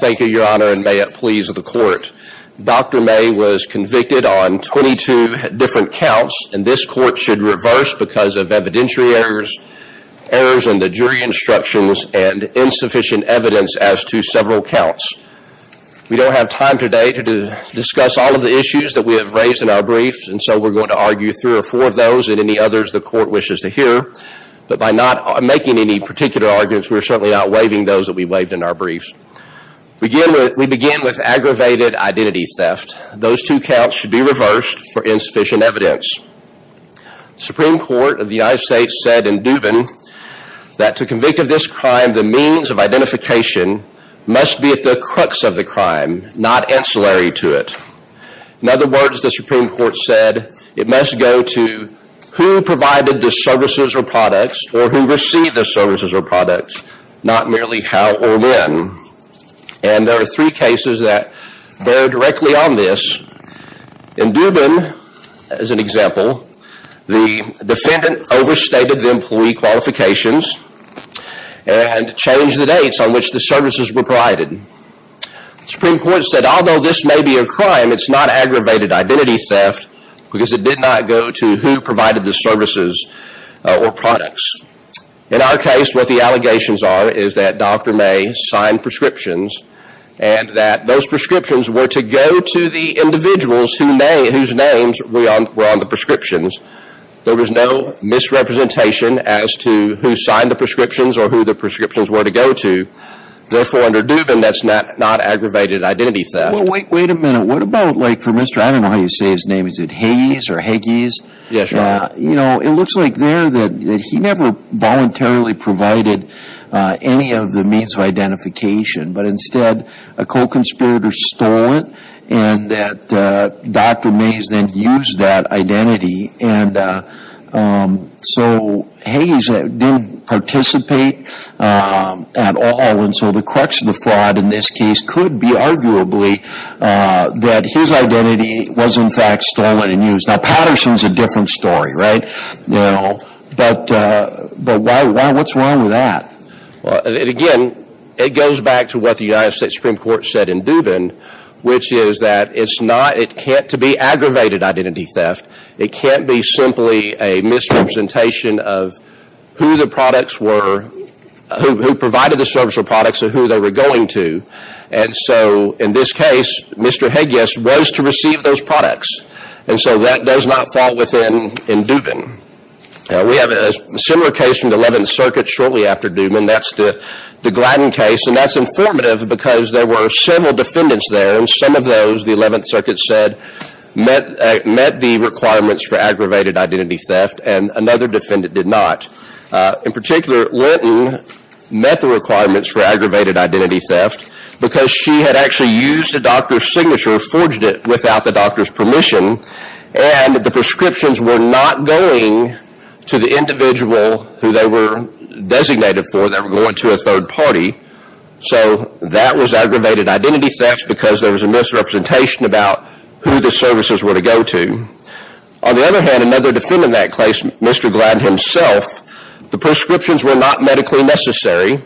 Thank you, Your Honor, and may it please the Court. Dr. May was convicted on 22 different counts, and this Court should reverse because of evidentiary errors and the jury instructions and insufficient evidence as to several counts. We don't have time today to discuss all of the issues that we have raised in our briefs, and so we're going to argue three or four of those and any others the Court wishes to hear. But by not making any particular arguments, we are certainly not waiving those that we waived in our briefs. We begin with aggravated identity theft. Those two counts should be reversed for insufficient evidence. The Supreme Court of the United States said in Dubin that to convict of this crime, the means of identification must be at the crux of the crime, not ancillary to it. In other words, who provided the services or products or who received the services or products, not merely how or when. And there are three cases that bear directly on this. In Dubin, as an example, the defendant overstated the employee qualifications and changed the dates on which the services were provided. The Supreme Court said although this may be a crime, it's not aggravated identity theft because it did not go to who provided the services or products. In our case, what the allegations are is that Dr. May signed prescriptions and that those prescriptions were to go to the individuals whose names were on the prescriptions. There was no misrepresentation as to who signed the prescriptions or who the prescriptions were to go to. Therefore, under Dubin, that's not aggravated identity theft. Wait a minute. What about like for Mr. I don't know how you say his name. Is it Hayes or Higgies? Yes, Your Honor. You know, it looks like there that he never voluntarily provided any of the means of identification. But instead, a co-conspirator stole it and that Dr. May has then used that identity. And so Hayes didn't participate at all. And so the crux of the fraud in this case could be arguably that his identity was, in fact, stolen and used. Now, Patterson's a different story, right? But what's wrong with that? Well, again, it goes back to what the United States Supreme Court said in Dubin, which is that it's not it can't to be aggravated identity theft. It can't be simply a misrepresentation of who the products were, who provided the service of products and who they were going to. And so in this case, Mr. Higgies was to receive those products. And so that does not fall within in Dubin. We have a similar case from the 11th Circuit shortly after Dubin. That's the the Gladden case. And that's informative because there were several defendants there. And some of those, the 11th Circuit said, met met the requirements for aggravated identity theft. And another defendant did not. In particular, Linton met the requirements for aggravated identity theft because she had actually used a doctor's signature, forged it without the doctor's permission. And the prescriptions were not going to the individual who they were designated for. They were going to a third party. So that was aggravated identity theft because there was a misrepresentation about who the services were to go to. On the other hand, another defendant in that case, Mr. Gladden himself, the prescriptions were not medically necessary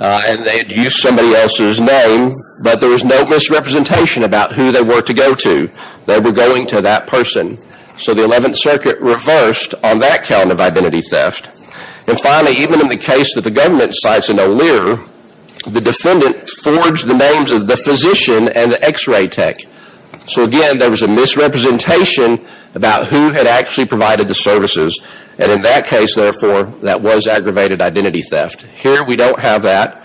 and they had used somebody else's name, but there was no misrepresentation about who they were to go to. They were going to that person. So the 11th Circuit reversed on that count of identity theft. And finally, even in the case that the government cites in O'Lear, the defendant forged the names of the physician and the x-ray tech. So again, there was a misrepresentation about who had actually provided the services. And in that case, therefore, that was aggravated identity theft. Here, we don't have that.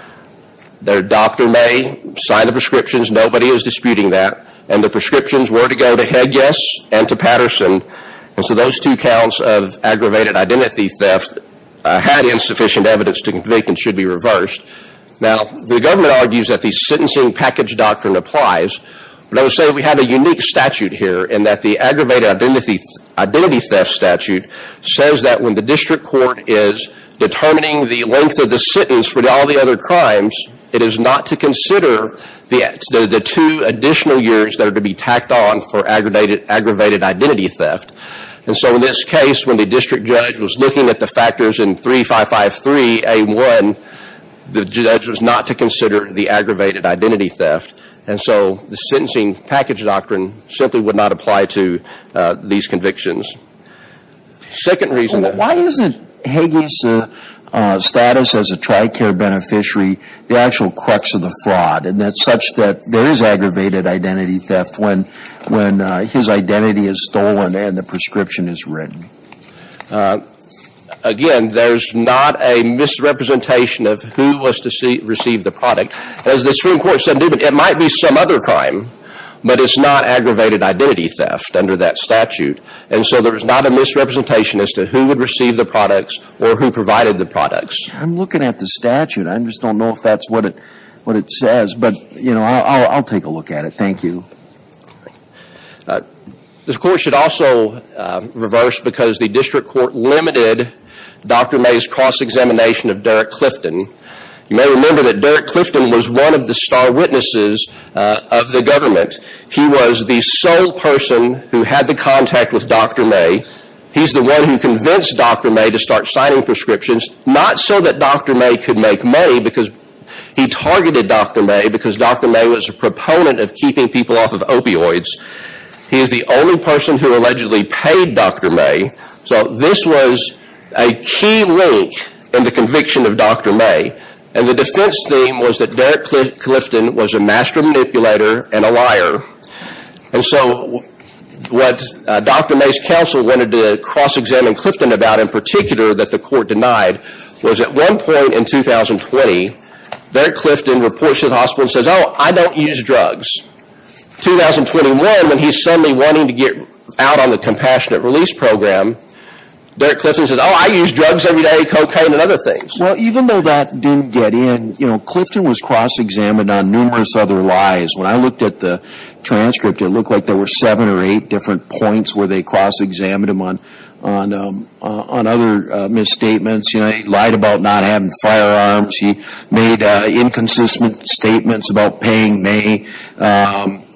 Their doctor may sign the prescriptions. Nobody is disputing that. And the prescriptions were to go to Hedges and to Patterson. And so those two counts of aggravated identity theft had insufficient evidence to convict and should be reversed. Now, the government argues that the sentencing package doctrine applies. But I would say we have a unique statute here in that the aggravated identity theft statute says that when the district court is determining the length of the sentence for all the other crimes, it is not to consider the two additional years that are to be tacked on for aggravated identity theft. And so in this case, when the district judge was looking at the factors in 3553 A1, the judge was not to consider the aggravated identity theft. And so the sentencing package doctrine simply would not apply to these convictions. Second reason that... Why isn't Hedges' status as a TRICARE beneficiary the actual crux of the fraud? And that's such that there is aggravated identity theft when his identity is stolen and the prescription is written? Again, there's not a misrepresentation of who was to receive the product. As the Supreme Court said, it might be some other crime, but it's not aggravated identity theft under that statute. And so there is not a misrepresentation as to who would receive the products or who provided the products. I'm looking at the statute. I just don't know if that's what it says. But, you know, I'll take a look at it. Thank you. All right. This court should also reverse because the district court limited Dr. May's cross-examination of Derek Clifton. You may remember that Derek Clifton was one of the star witnesses of the government. He was the sole person who had the contact with Dr. May. He's the one who convinced Dr. May to start signing prescriptions, not so that Dr. May could make because he targeted Dr. May because Dr. May was a proponent of keeping people off of opioids. He is the only person who allegedly paid Dr. May. So this was a key link in the conviction of Dr. May. And the defense theme was that Derek Clifton was a master manipulator and a liar. And so what Dr. May's counsel wanted to cross-examine Clifton about, in particular, that the court denied, was at one point in 2020, Derek Clifton reports to the hospital and says, oh, I don't use drugs. 2021, when he's suddenly wanting to get out on the compassionate release program, Derek Clifton says, oh, I use drugs every day, cocaine and other things. Well, even though that didn't get in, you know, Clifton was cross-examined on numerous other lies. When I looked at the transcript, it looked like there were seven or eight different points where they cross-examined him on other misstatements. He lied about not having firearms. He made inconsistent statements about paying May.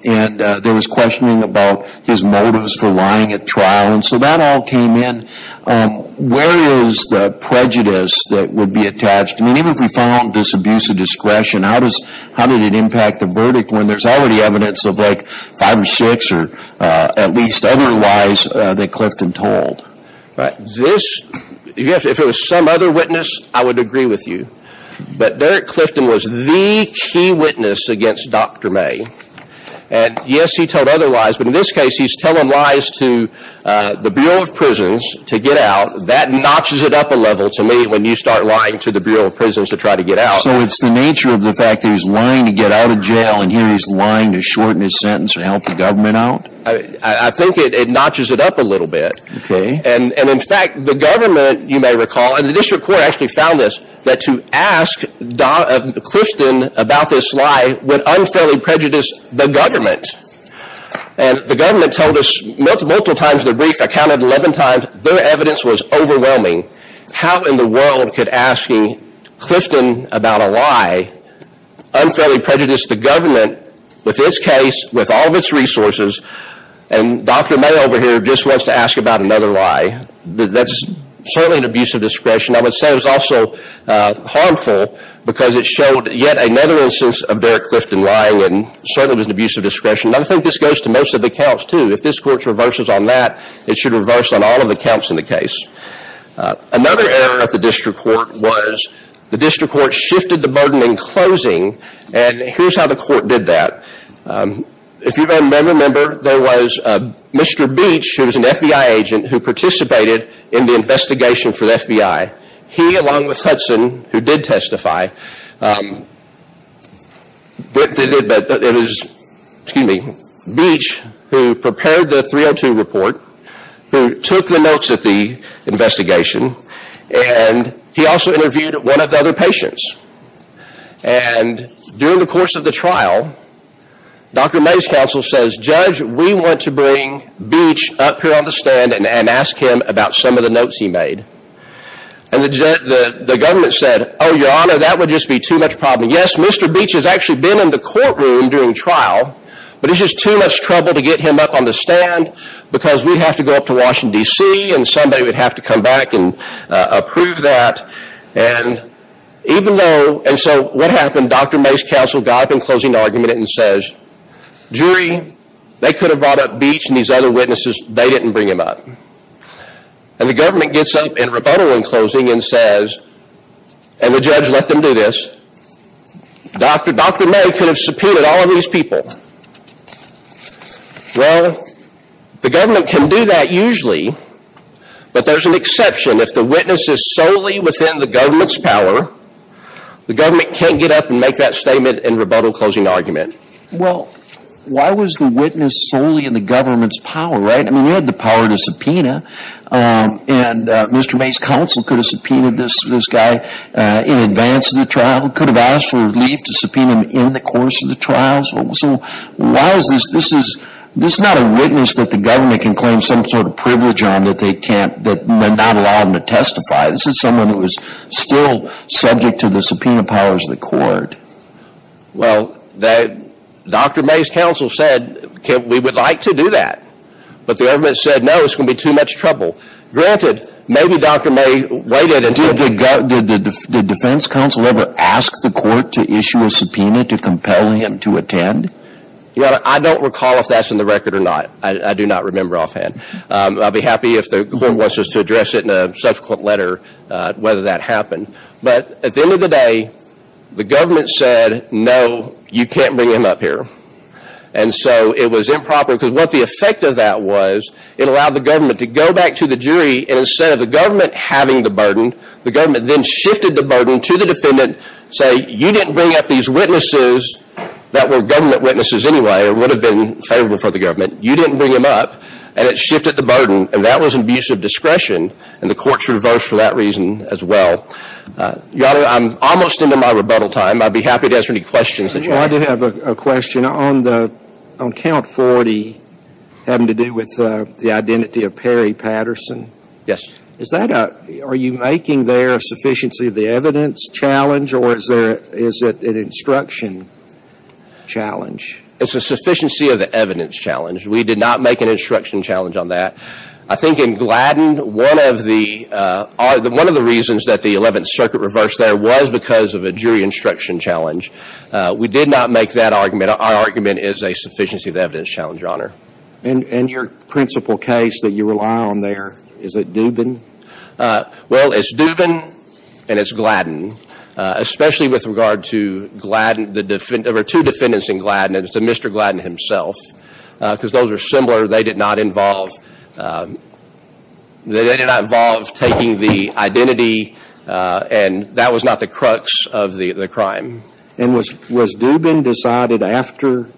And there was questioning about his motives for lying at trial. And so that all came in. Where is the prejudice that would be attached? I mean, even if we found this abuse of discretion, how did it impact the verdict when there's already evidence of like five or six or at least other lies that Clifton told? If it was some other witness, I would agree with you. But Derek Clifton was the key witness against Dr. May. And yes, he told other lies. But in this case, he's telling lies to the Bureau of Prisons to get out. That notches it up a level to me when you start lying to the Bureau of Prisons to try to get out. So it's the nature of the fact that he's lying to get out of jail and here he's lying to shorten his sentence to help the government out? I think it notches it up a little bit. Okay. And in fact, the government, you may recall, and the district court actually found this, that to ask Clifton about this lie would unfairly prejudice the government. And the government told us multiple times in the brief, I counted 11 times, their evidence was overwhelming. How in the world could asking Clifton about a lie unfairly prejudice the government with this case, with all of its resources, and Dr. May over here just wants to ask about another lie? That's certainly an abuse of discretion. I would say it was also harmful because it showed yet another instance of Derek Clifton lying and certainly was an abuse of discretion. I think this goes to most of the counts too. If this court reverses on that, it should reverse on all of the was the district court shifted the burden in closing and here's how the court did that. If you may remember, there was Mr. Beach, who was an FBI agent, who participated in the investigation for the FBI. He, along with Hudson, who did testify, it was, excuse me, Beach who prepared the 302 report, who took the notes at the investigation and he also interviewed one of the other patients. And during the course of the trial, Dr. May's counsel says, Judge, we want to bring Beach up here on the stand and ask him about some of the notes he made. And the government said, oh, your honor, that would just be too much problem. Yes, Mr. Beach has actually been in the courtroom during trial, but it's just too much trouble to get him up on the stand because we'd have to go up to Washington, D.C. and somebody would have to come back and approve that. And even though, and so what happened, Dr. May's counsel got up in closing argument and says, jury, they could have brought up Beach and these other witnesses, they didn't bring him up. And the government gets up in rebuttal in closing and says, and the judge let them do this, Dr. May could have subpoenaed all of these people. Well, the government can do that usually, but there's an exception. If the witness is solely within the government's power, the government can't get up and make that statement in rebuttal closing argument. Well, why was the witness solely in the government's power, right? I mean, we had the power to subpoena and Mr. May's counsel could have subpoenaed this guy in advance of the trials. So why is this, this is, this is not a witness that the government can claim some sort of privilege on that they can't, that may not allow them to testify. This is someone who is still subject to the subpoena powers of the court. Well, Dr. May's counsel said, we would like to do that. But the government said, no, it's going to be too much trouble. Granted, maybe Dr. May waited until... Did the defense counsel ever ask the court to issue a subpoena to compel him to attend? I don't recall if that's in the record or not. I do not remember offhand. I'll be happy if the court wants us to address it in a subsequent letter, whether that happened. But at the end of the day, the government said, no, you can't bring him up here. And so it was improper because what the effect of that was, it allowed the government to go back to the jury and instead of the government having the burden, the government then shifted the burden to the defendant, say, you didn't bring up these witnesses that were government witnesses anyway or would have been favorable for the government. You didn't bring him up. And it shifted the burden. And that was an abuse of discretion. And the courts reversed for that reason as well. Your Honor, I'm almost into my rebuttal time. I'd be happy to answer any questions that you have. I do have a question on the, on count 40, having to do with the identity of Perry Patterson. Yes. Is that a, are you making there a sufficiency of the evidence challenge or is there, is it an instruction challenge? It's a sufficiency of the evidence challenge. We did not make an instruction challenge on that. I think in Gladden, one of the, one of the reasons that the 11th Circuit reversed there was because of a jury instruction challenge. We did not make that argument. Our argument is a sufficiency of the evidence challenge, Your Honor. And your principal case that you rely on there, is it Dubin? Well, it's Dubin and it's Gladden, especially with regard to Gladden, the defend, there were two defendants in Gladden and it's a Mr. Gladden himself because those are similar. They did not involve, they did not involve taking the identity and that was not the crux of the crime. And was, was Dubin decided after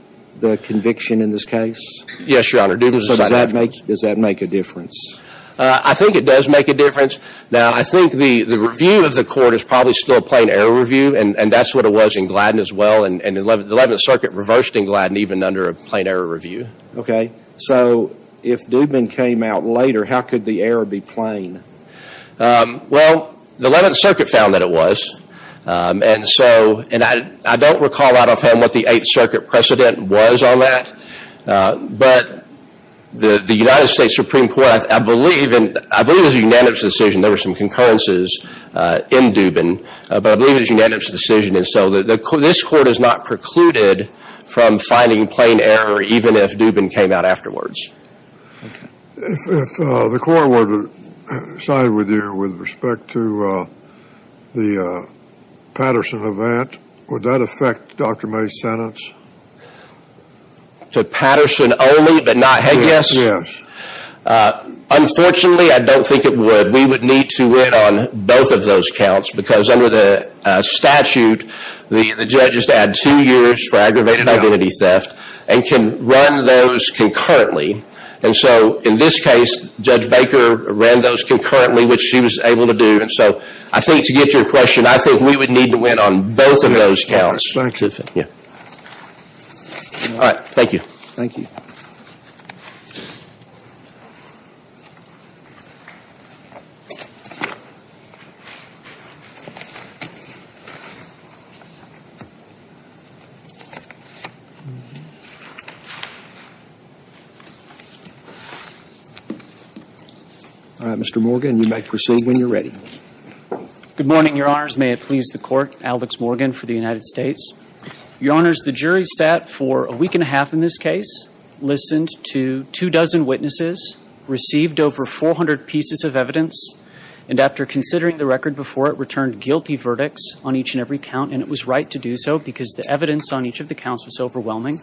the conviction in this case? Yes, Your Honor, Dubin was decided after. So does that make, does that make a difference? I think it does make a difference. Now, I think the, the review of the court is probably still a plain error review and, and that's what it was in Gladden as well and, and the 11th Circuit reversed in Gladden even under a plain error review. Okay. So if Dubin came out later, how could the error be plain? Um, well, the 11th Circuit found that it was, um, and so, and I, I don't recall out of him what the 8th Circuit precedent was on that, uh, but the, the United States Supreme Court, I believe, and I believe it was a unanimous decision, there were some concurrences, uh, in Dubin, but I believe it was a unanimous decision and so the, the, this court has not precluded from finding plain error even if Dubin came out afterwards. Okay. If, if, uh, the court were to side with you with respect to, uh, the, uh, Patterson event, would that affect Dr. May's sentence? To Patterson only but not, yes? Yes. Uh, unfortunately, I don't think it would. We would need to wait on both of those counts because under the, uh, statute, the, the judge is to add two years for aggravated identity theft and can run those concurrently and so, in this case, Judge Baker ran those concurrently, which she was able to do, and so, I think, to get to your question, I think we would need to win on both of those counts. All right. Thank you. Thank you. All right, Mr. Morgan, you may proceed when you're ready. Good morning, Your Honors. May it please the court, Alex Morgan for the United States. Your Honors, the jury sat for a week and a half in this case, listened to two dozen witnesses, received over 400 pieces of evidence, and after considering the record before it, returned guilty verdicts on each and every count, and it was right to do so because the evidence on each of the counts was overwhelming.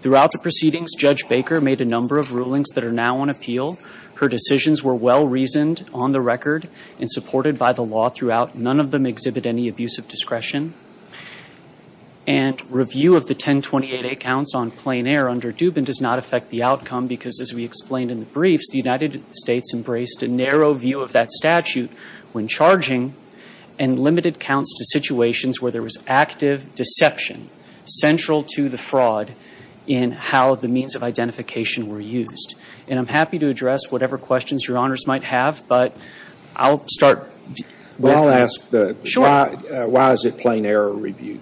Throughout the proceedings, Judge Baker made a number of rulings that are now on appeal. Her decisions were well-reasoned on the record and supported by the law throughout. None of them exhibit any abusive discretion, and review of the 1028A counts on plain air under Dubin does not affect the outcome because, as we explained in the briefs, the United States embraced a narrow view of that statute when charging and limited counts to situations where there was active deception central to the fraud in how the means of identification were used. And I'm happy to address whatever questions Your Honors might have, but I'll start with... Well, I'll ask the... Sure. Why is it plain error review?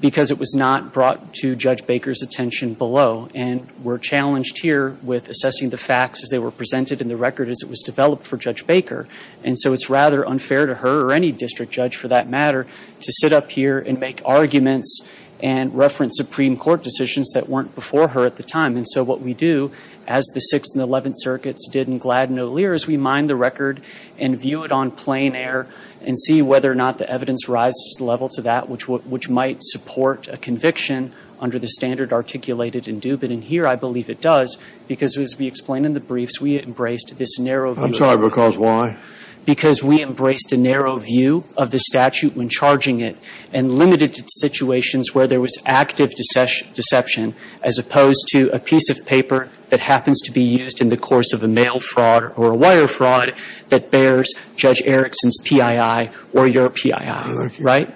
Because it was not brought to Judge Baker's attention below, and we're challenged here with assessing the facts as they were presented in the record as it was developed for Judge Baker, and so it's rather unfair to her or any district judge for that matter to sit up here and make arguments and reference Supreme Court decisions that weren't before her at the time. And so what we do, as the Sixth and Eleventh Circuits did in Gladden-O'Lear, is we mine the record and view it on plain air and see whether or not the evidence rises to the level to that which might support a conviction under the standard articulated in Dubin. And here I believe it does because, as we explained in the briefs, we embraced this narrow view... I'm sorry, because why? Because we embraced a narrow view of the statute when charging it and limited to situations where there was active deception as opposed to a piece of paper that happens to be used in the course of a mail fraud or a wire fraud that bears Judge Erickson's PII or your PII, right?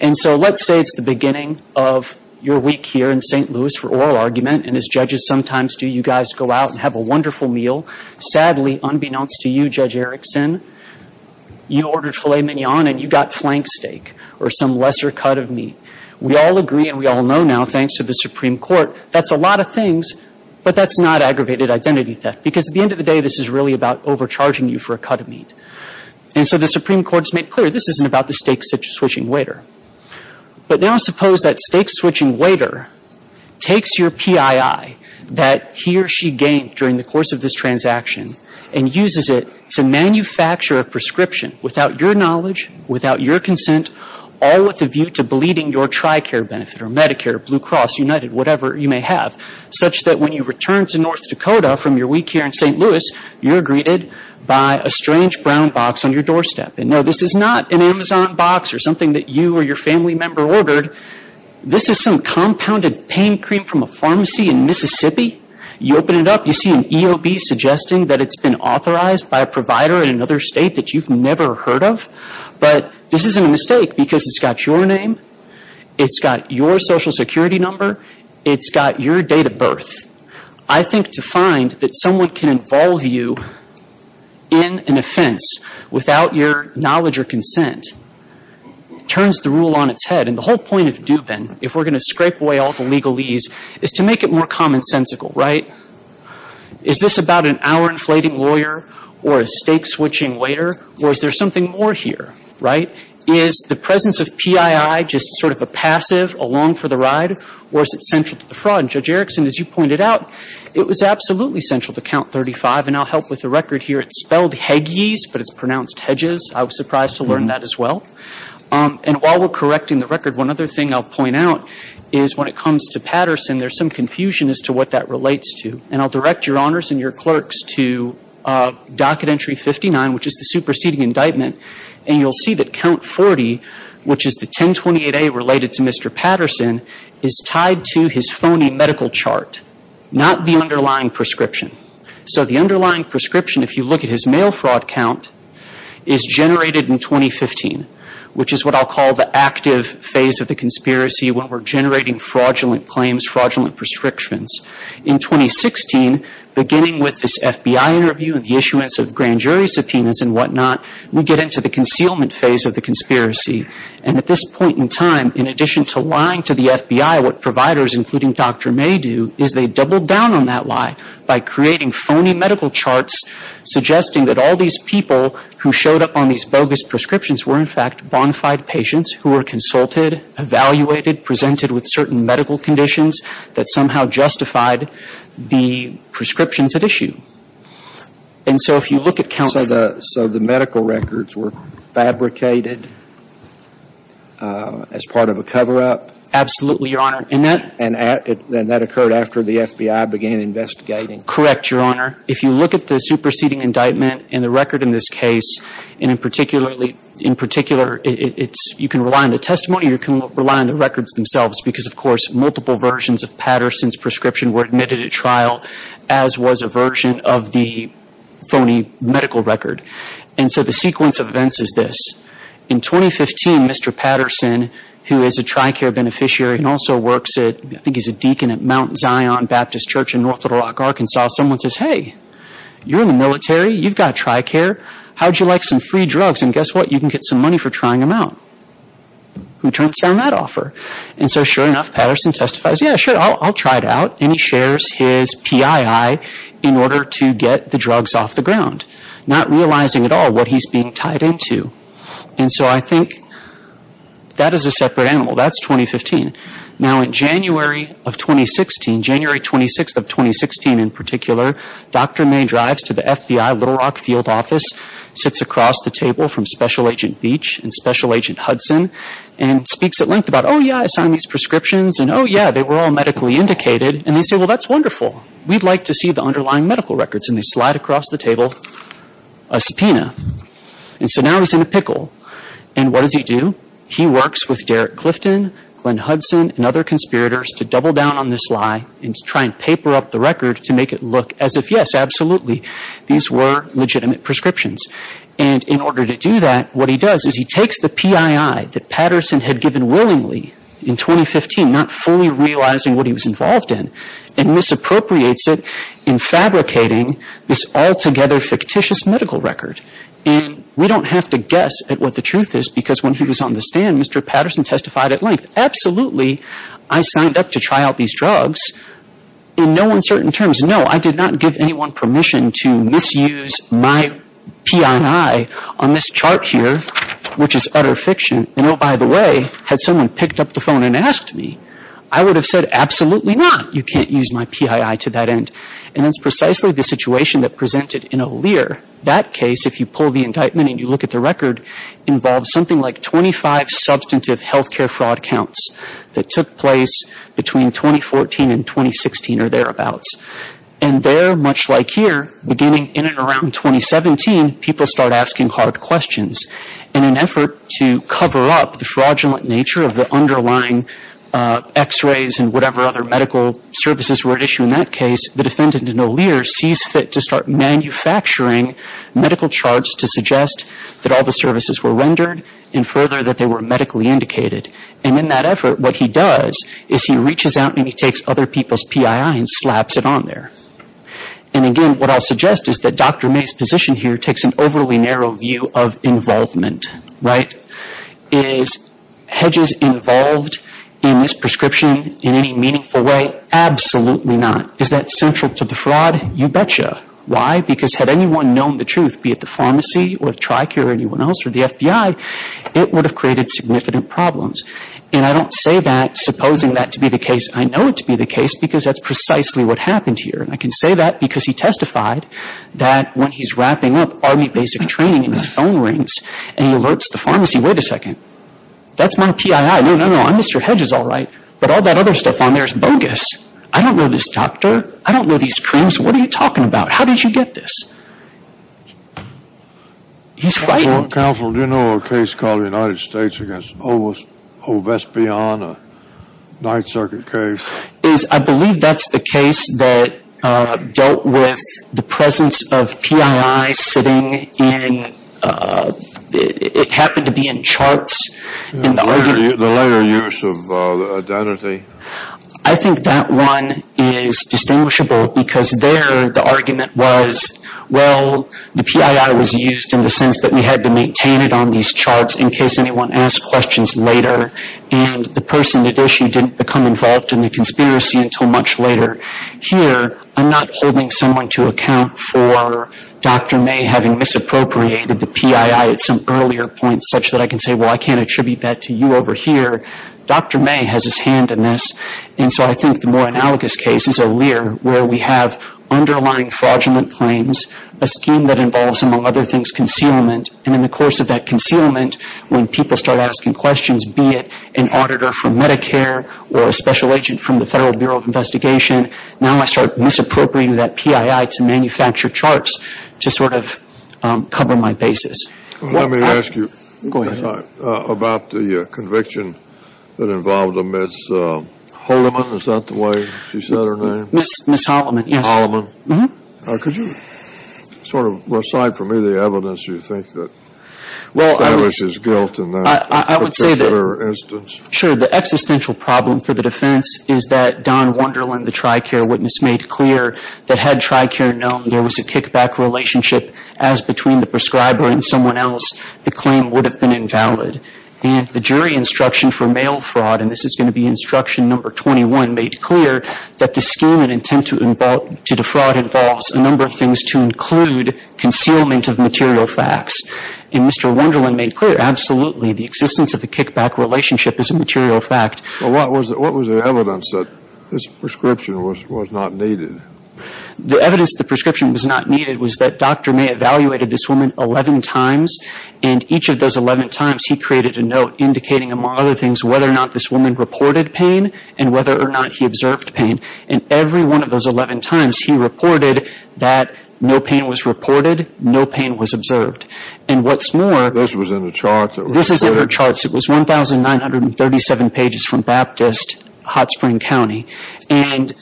And so let's say it's the beginning of your week here in St. Louis for oral argument, and as judges sometimes do, you guys go out and have a wonderful meal. Sadly, unbeknownst to you, Judge Erickson, you ordered filet mignon and you got flank steak or some lesser cut of meat. We all agree and we all know now, thanks to the Supreme Court, that's a lot of things, but that's not aggravated identity theft. Because at the end of the day, this is really about overcharging you for a cut of meat. And so the Supreme Court's made clear this isn't about the steak-switching waiter. But now suppose that steak-switching waiter takes your PII that he or she gained during the course of this transaction and uses it to manufacture a prescription without your knowledge, without your consent, all with a view to bleeding your TRICARE benefit or Medicare, Blue Cross, United, whatever you may have, such that when you return to North Dakota from your week here in St. Louis, you're greeted by a strange brown box on your doorstep. And no, this is not an Amazon box or something that you or your family member ordered. This is some compounded pain cream from a pharmacy in Mississippi. You open it up, you see an EOB suggesting that it's been authorized by a provider in another state that you've never heard of. But this isn't a mistake because it's got your name, it's got your social security number, it's got your date of birth. I think to find that someone can involve you in an offense without your knowledge or consent turns the rule on its head. And the whole point of Dubin, if we're going to scrape away all the legalese, is to make it more commonsensical, right? Is this about an hour-inflating lawyer or a stake-switching waiter, or is there something more here, right? Is the presence of PII just sort of a passive, a long for the ride, or is it central to the And Judge Erickson, as you pointed out, it was absolutely central to Count 35, and I'll help with the record here. It's spelled Heggies, but it's pronounced Hedges. I was surprised to learn that as well. And while we're correcting the record, one other thing I'll point out is when it comes to Patterson, there's some confusion as to what that relates to. And I'll direct your honors and your clerks to docket entry 59, which is the superseding indictment. And you'll see that Count 40, which is the 1028A related to Mr. Patterson, is tied to his phony medical chart, not the underlying prescription. So the underlying prescription, if you look at his mail fraud count, is generated in 2015, which is what I'll call the active phase of the conspiracy when we're generating fraudulent claims, fraudulent prescriptions. In 2016, beginning with this FBI interview and the issuance of grand jury subpoenas and whatnot, we get into the concealment phase of the conspiracy. And at this point in time, in addition to lying to the FBI, what providers, including Dr. May do, is they double down on that lie by creating phony medical charts suggesting that all these people who showed up on these bogus prescriptions were, in fact, bonafide patients who were consulted, evaluated, presented with certain medical conditions that somehow justified the prescriptions at issue. And so if you look at Count 40. So the medical records were fabricated as part of a cover-up? Absolutely, your honor. And that. And that occurred after the FBI began investigating? Correct, your honor. If you look at the superseding indictment and the record in this case, and in particular, in particular, you can rely on the testimony or you can rely on the records themselves. Because, of course, multiple versions of Patterson's prescription were admitted at trial, as was a version of the phony medical record. And so the sequence of events is this. In 2015, Mr. Patterson, who is a TRICARE beneficiary and also works at, I think he's a deacon at Mount Zion Baptist Church in North Little Rock, Arkansas. Someone says, hey, you're in the military. You've got TRICARE. How would you like some free drugs? Guess what? You can get some money for trying them out. Who turns down that offer? And so, sure enough, Patterson testifies, yeah, sure, I'll try it out. And he shares his PII in order to get the drugs off the ground, not realizing at all what he's being tied into. And so I think that is a separate animal. That's 2015. Now, in January of 2016, January 26th of 2016, in particular, Dr. May drives to the FBI Little Rock field office, sits across the table from Special Agent Beach and Special Agent Hudson, and speaks at length about, oh, yeah, I signed these prescriptions, and oh, yeah, they were all medically indicated. And they say, well, that's wonderful. We'd like to see the underlying medical records. And they slide across the table a subpoena. And so now he's in a pickle. And what does he do? He works with Derek Clifton, Glenn Hudson, and other conspirators to double down on this lie and to try and paper up the record to make it look as if, yes, absolutely, these were legitimate prescriptions. And in order to do that, what he does is he takes the PII that Patterson had given willingly in 2015, not fully realizing what he was involved in, and misappropriates it in fabricating this altogether fictitious medical record. And we don't have to guess at what the truth is, because when he was on the stand, Mr. Patterson testified at length, absolutely, I signed up to try out these drugs in no uncertain terms. No, I did not give anyone permission to misuse my PII on this chart here, which is utter fiction. And oh, by the way, had someone picked up the phone and asked me, I would have said, absolutely not. You can't use my PII to that end. And that's precisely the situation that presented in O'Lear. That case, if you pull the indictment and you look at the record, involves something like 25 substantive health care fraud counts that took place between 2014 and 2016 or thereabouts. And there, much like here, beginning in and around 2017, people start asking hard questions. In an effort to cover up the fraudulent nature of the underlying X-rays and whatever other medical services were at issue in that case, the defendant in O'Lear sees fit to start manufacturing medical charts to suggest that all the services were rendered and further that they were medically indicated. And in that effort, what he does is he reaches out and he takes other people's PII and slaps it on there. And again, what I'll suggest is that Dr. May's position here takes an overly narrow view of involvement, right? Is HEDGES involved in this prescription in any meaningful way? Absolutely not. Is that central to the fraud? You betcha. Why? Because had anyone known the truth, be it the pharmacy or the TRICARE or anyone else or the FBI, it would have created significant problems. And I don't say that supposing that to be the case. I know it to be the case because that's precisely what happened here. And I can say that because he testified that when he's wrapping up Army basic training and his phone rings and he alerts the pharmacy, wait a second. That's my PII. No, no, no. I'm Mr. HEDGES, all right. But all that other stuff on there is bogus. I don't know this doctor. I don't know these creams. What are you talking about? How did you get this? He's frightened. Counselor, do you know a case called the United States against Ovespian, a circuit case? Is, I believe that's the case that dealt with the presence of PII sitting in, it happened to be in charts. The later use of identity. I think that one is distinguishable because there the argument was, well, the PII was used in the sense that we had to maintain it on these charts in case anyone asked questions later and the person at issue didn't become involved in the conspiracy until much later. Here, I'm not holding someone to account for Dr. May having misappropriated the PII at some earlier point such that I can say, well, I can't attribute that to you over here. Dr. May has his hand in this. And so I think the more analogous case is O'Lear where we have underlying fraudulent claims, a scheme that involves, among other things, concealment. And in the course of that concealment, when people start asking questions, be it an auditor from Medicare or a special agent from the Federal Bureau of Investigation, now I start misappropriating that PII to manufacture charts to sort of cover my basis. Well, let me ask you about the conviction that involved a Ms. Holiman, is that the way she said her name? Ms. Holiman, yes. Holiman. Well, I would say that, sure, the existential problem for the defense is that Don Wunderland, the TRICARE witness, made clear that had TRICARE known there was a kickback relationship as between the prescriber and someone else, the claim would have been invalid. And the jury instruction for mail fraud, and this is going to be instruction number 21, made clear that the scheme and intent to defraud involves a number of things to include concealment of material facts. And Mr. Wunderland made clear, absolutely, the existence of a kickback relationship is a material fact. But what was the evidence that this prescription was not needed? The evidence the prescription was not needed was that Dr. May evaluated this woman 11 times, and each of those 11 times he created a note indicating, among other things, whether or not this woman reported pain and whether or not he observed pain. And every one of those 11 times he reported that no pain was reported, no pain was observed. And what's more, this is in her charts. It was 1,937 pages from Baptist, Hot Spring County. And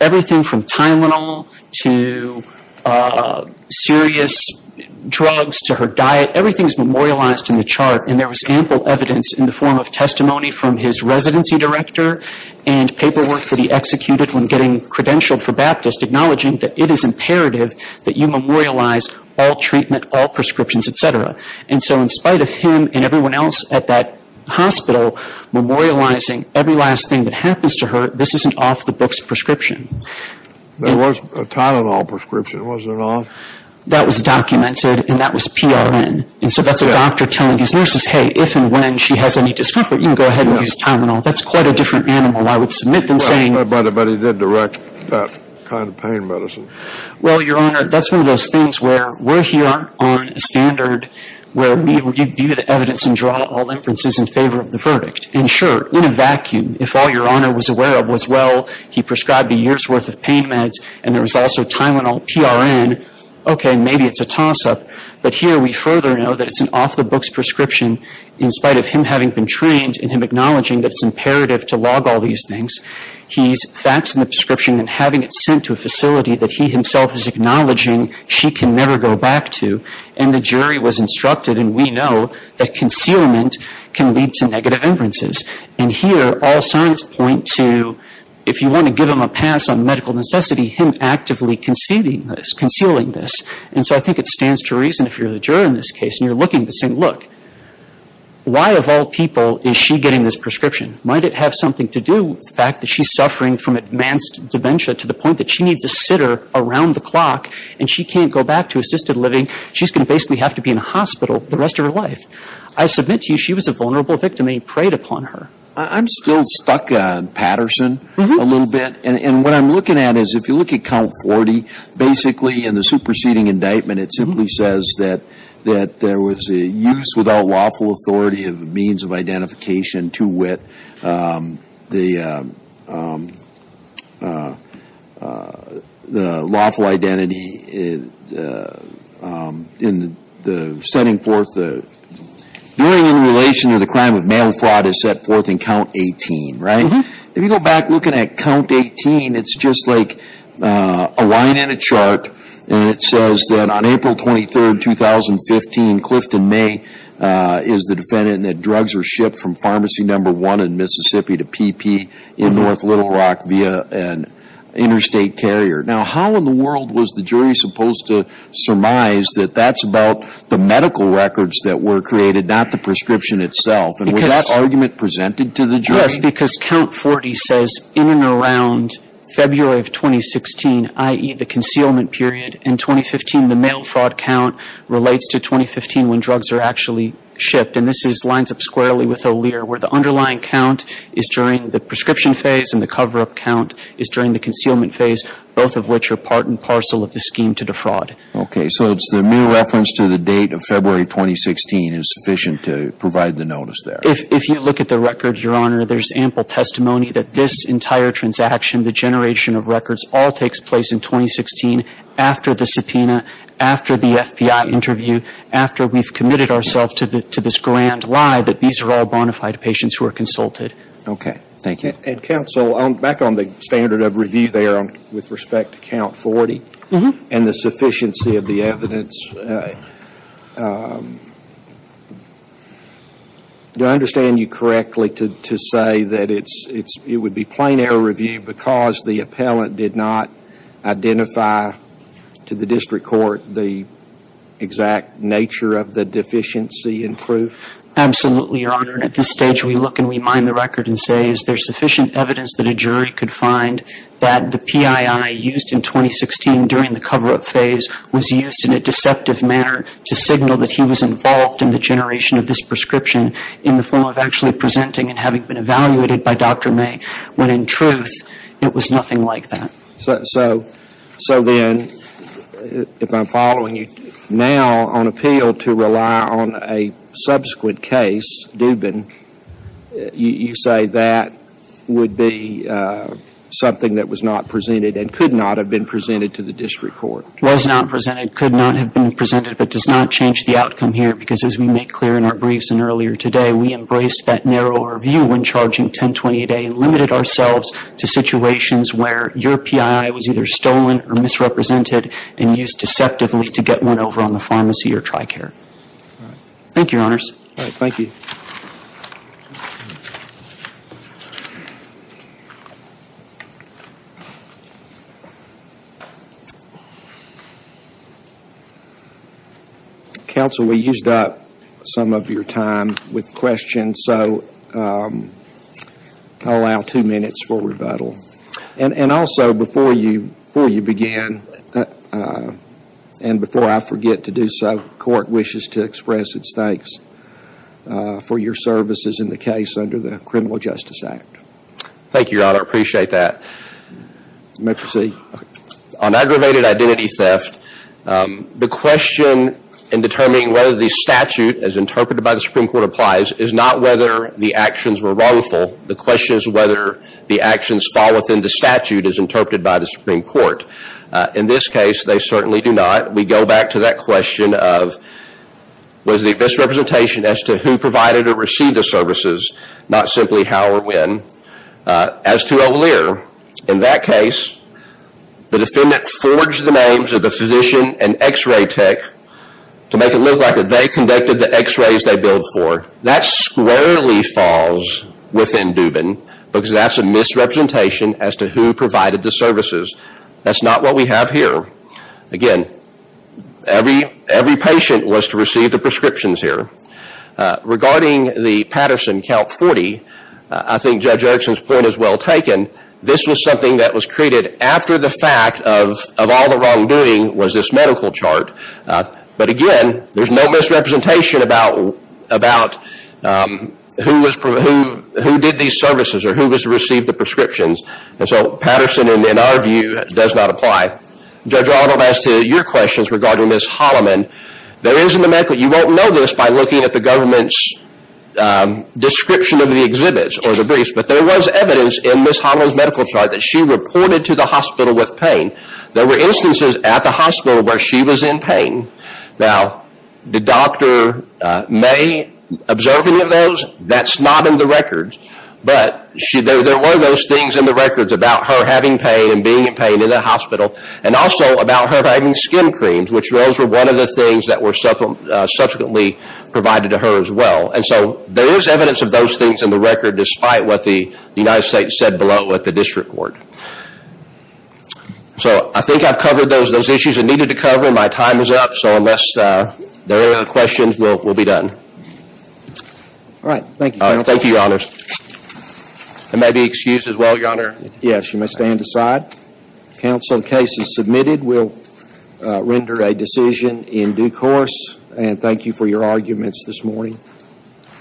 everything from Tylenol to serious drugs to her diet, everything is memorialized in the chart. And there was ample evidence in the form of testimony from his residency director and paperwork that he executed when getting credentialed for Baptist, acknowledging that it is imperative that you memorialize all treatment, all prescriptions, et cetera. And so in spite of him and everyone else at that hospital memorializing every last thing that happens to her, this isn't off the book's prescription. There was a Tylenol prescription, was there not? That was documented and that was PRN. And so that's a doctor telling his nurses, hey, if and when she has any discomfort, you can go ahead and use Tylenol. That's quite a different animal. I would submit them saying... Well, but he did direct that kind of pain medicine. Well, Your Honor, that's one of those things where we're here on a standard where we view the evidence and draw all inferences in favor of the verdict. And sure, in a vacuum, if all Your Honor was aware of was, well, he prescribed a year's worth of pain meds and there was also Tylenol, PRN, okay, maybe it's a toss-up. But here we further know that it's an off the book's prescription in spite of him having been trained and him acknowledging that it's imperative to log all these things. He's faxing the prescription and having it sent to a facility that he himself is acknowledging she can never go back to. And the jury was instructed, and we know, that concealment can lead to negative inferences. And here, all signs point to, if you want to give him a pass on medical necessity, him actively concealing this. And so I think it stands to reason, if you're the juror in this case and you're looking at this and saying, look, why of all people is she getting this prescription? Might it have something to do with the fact that she's suffering from advanced dementia to the point that she needs a sitter around the clock and she can't go back to assisted living? She's going to basically have to be in a hospital the rest of her life. I submit to you she was a vulnerable victim and he preyed upon her. I'm still stuck on Patterson a little bit. And what I'm looking at is, if you look at count 40, basically in the superseding indictment it simply says that there was a use without lawful authority of means of identification to wit. The lawful identity in the setting forth the, during the relation of the crime of mail fraud is set forth in count 18, right? If you go back looking at count 18, it's just like a line in a chart and it says that on April 23, 2015, Clifton May is the defendant and that drugs were shipped from pharmacy number one in Mississippi to PP in North Little Rock via an interstate carrier. Now how in the world was the jury supposed to surmise that that's about the medical records that were created, not the prescription itself? And was that argument presented to the jury? Yes, because count 40 says in and around February of 2016, i.e. the concealment period, in 2015 the mail fraud count relates to 2015 when drugs are actually shipped and this lines up squarely with O'Lear where the underlying count is during the prescription phase and the cover-up count is during the concealment phase, both of which are part and parcel of the scheme to defraud. Okay, so it's the new reference to the date of February 2016 is sufficient to provide the notice there? If you look at the records, Your Honor, there's ample testimony that this entire transaction, the generation of records, all takes place in 2016 after the subpoena, after the FBI interview, after we've committed ourselves to this grand lie that these are all bona fide patients who are consulted. Okay, thank you. And counsel, back on the standard of review there with respect to count 40 and the sufficiency of the evidence, do I understand you correctly to say that it's, it would be plain error review because the appellant did not identify to the district court the exact nature of the deficiency in proof? Absolutely, Your Honor, and at this stage we look and we mine the record and say is there sufficient evidence that a jury could find that the PII used in 2016 during the cover-up phase was used in a deceptive manner to signal that he was involved in the generation of this prescription in the form of actually presenting and having been evaluated by Dr. Dubin. The truth, it was nothing like that. So then, if I'm following you, now on appeal to rely on a subsequent case, Dubin, you say that would be something that was not presented and could not have been presented to the district court? Was not presented, could not have been presented, but does not change the outcome here because as we make clear in our briefs and earlier today, we embraced that narrow overview when charging 1028A and limited ourselves to situations where your PII was either stolen or misrepresented and used deceptively to get one over on the pharmacy or TRICARE. Thank you, Your Honors. All right, thank you. Counsel, we used up some of your time with questions. And so, I'll allow two minutes for rebuttal. And also, before you begin, and before I forget to do so, court wishes to express its thanks for your services in the case under the Criminal Justice Act. Thank you, Your Honor. I appreciate that. You may proceed. On aggravated identity theft, the question in determining whether the statute as interpreted by the Supreme Court applies is not whether the actions were wrongful. The question is whether the actions fall within the statute as interpreted by the Supreme Court. In this case, they certainly do not. We go back to that question of was the misrepresentation as to who provided or received the services, not simply how or when. As to O'Lear, in that case, the defendant forged the names of the physician and x-ray tech to make it look like they conducted the x-rays they billed for. That squarely falls within Dubin, because that's a misrepresentation as to who provided the services. That's not what we have here. Again, every patient was to receive the prescriptions here. Regarding the Patterson Count 40, I think Judge Erickson's point is well taken. This was something that was created after the fact of all the wrongdoing was this medical chart. Again, there's no misrepresentation about who did these services or who was to receive the prescriptions. Patterson, in our view, does not apply. Judge Arnold, as to your questions regarding Ms. Holloman, you won't know this by looking at the government's description of the exhibits or the briefs, but there was evidence in Ms. Holloman's medical chart that she reported to the hospital with pain. There were instances at the hospital where she was in pain. Did Dr. May observe any of those? That's not in the records, but there were those things in the records about her having pain and being in pain in the hospital, and also about her having skin creams, which those were one of the things that were subsequently provided to her as well. There is evidence of those things in the record, despite what the United States said below at the district court. So I think I've covered those issues that I needed to cover. My time is up, so unless there are any other questions, we'll be done. All right, thank you, counsel. Thank you, your honors. I may be excused as well, your honor. Yes, you may stand aside. Counsel, the case is submitted. We'll render a decision in due course, and thank you for your arguments this morning.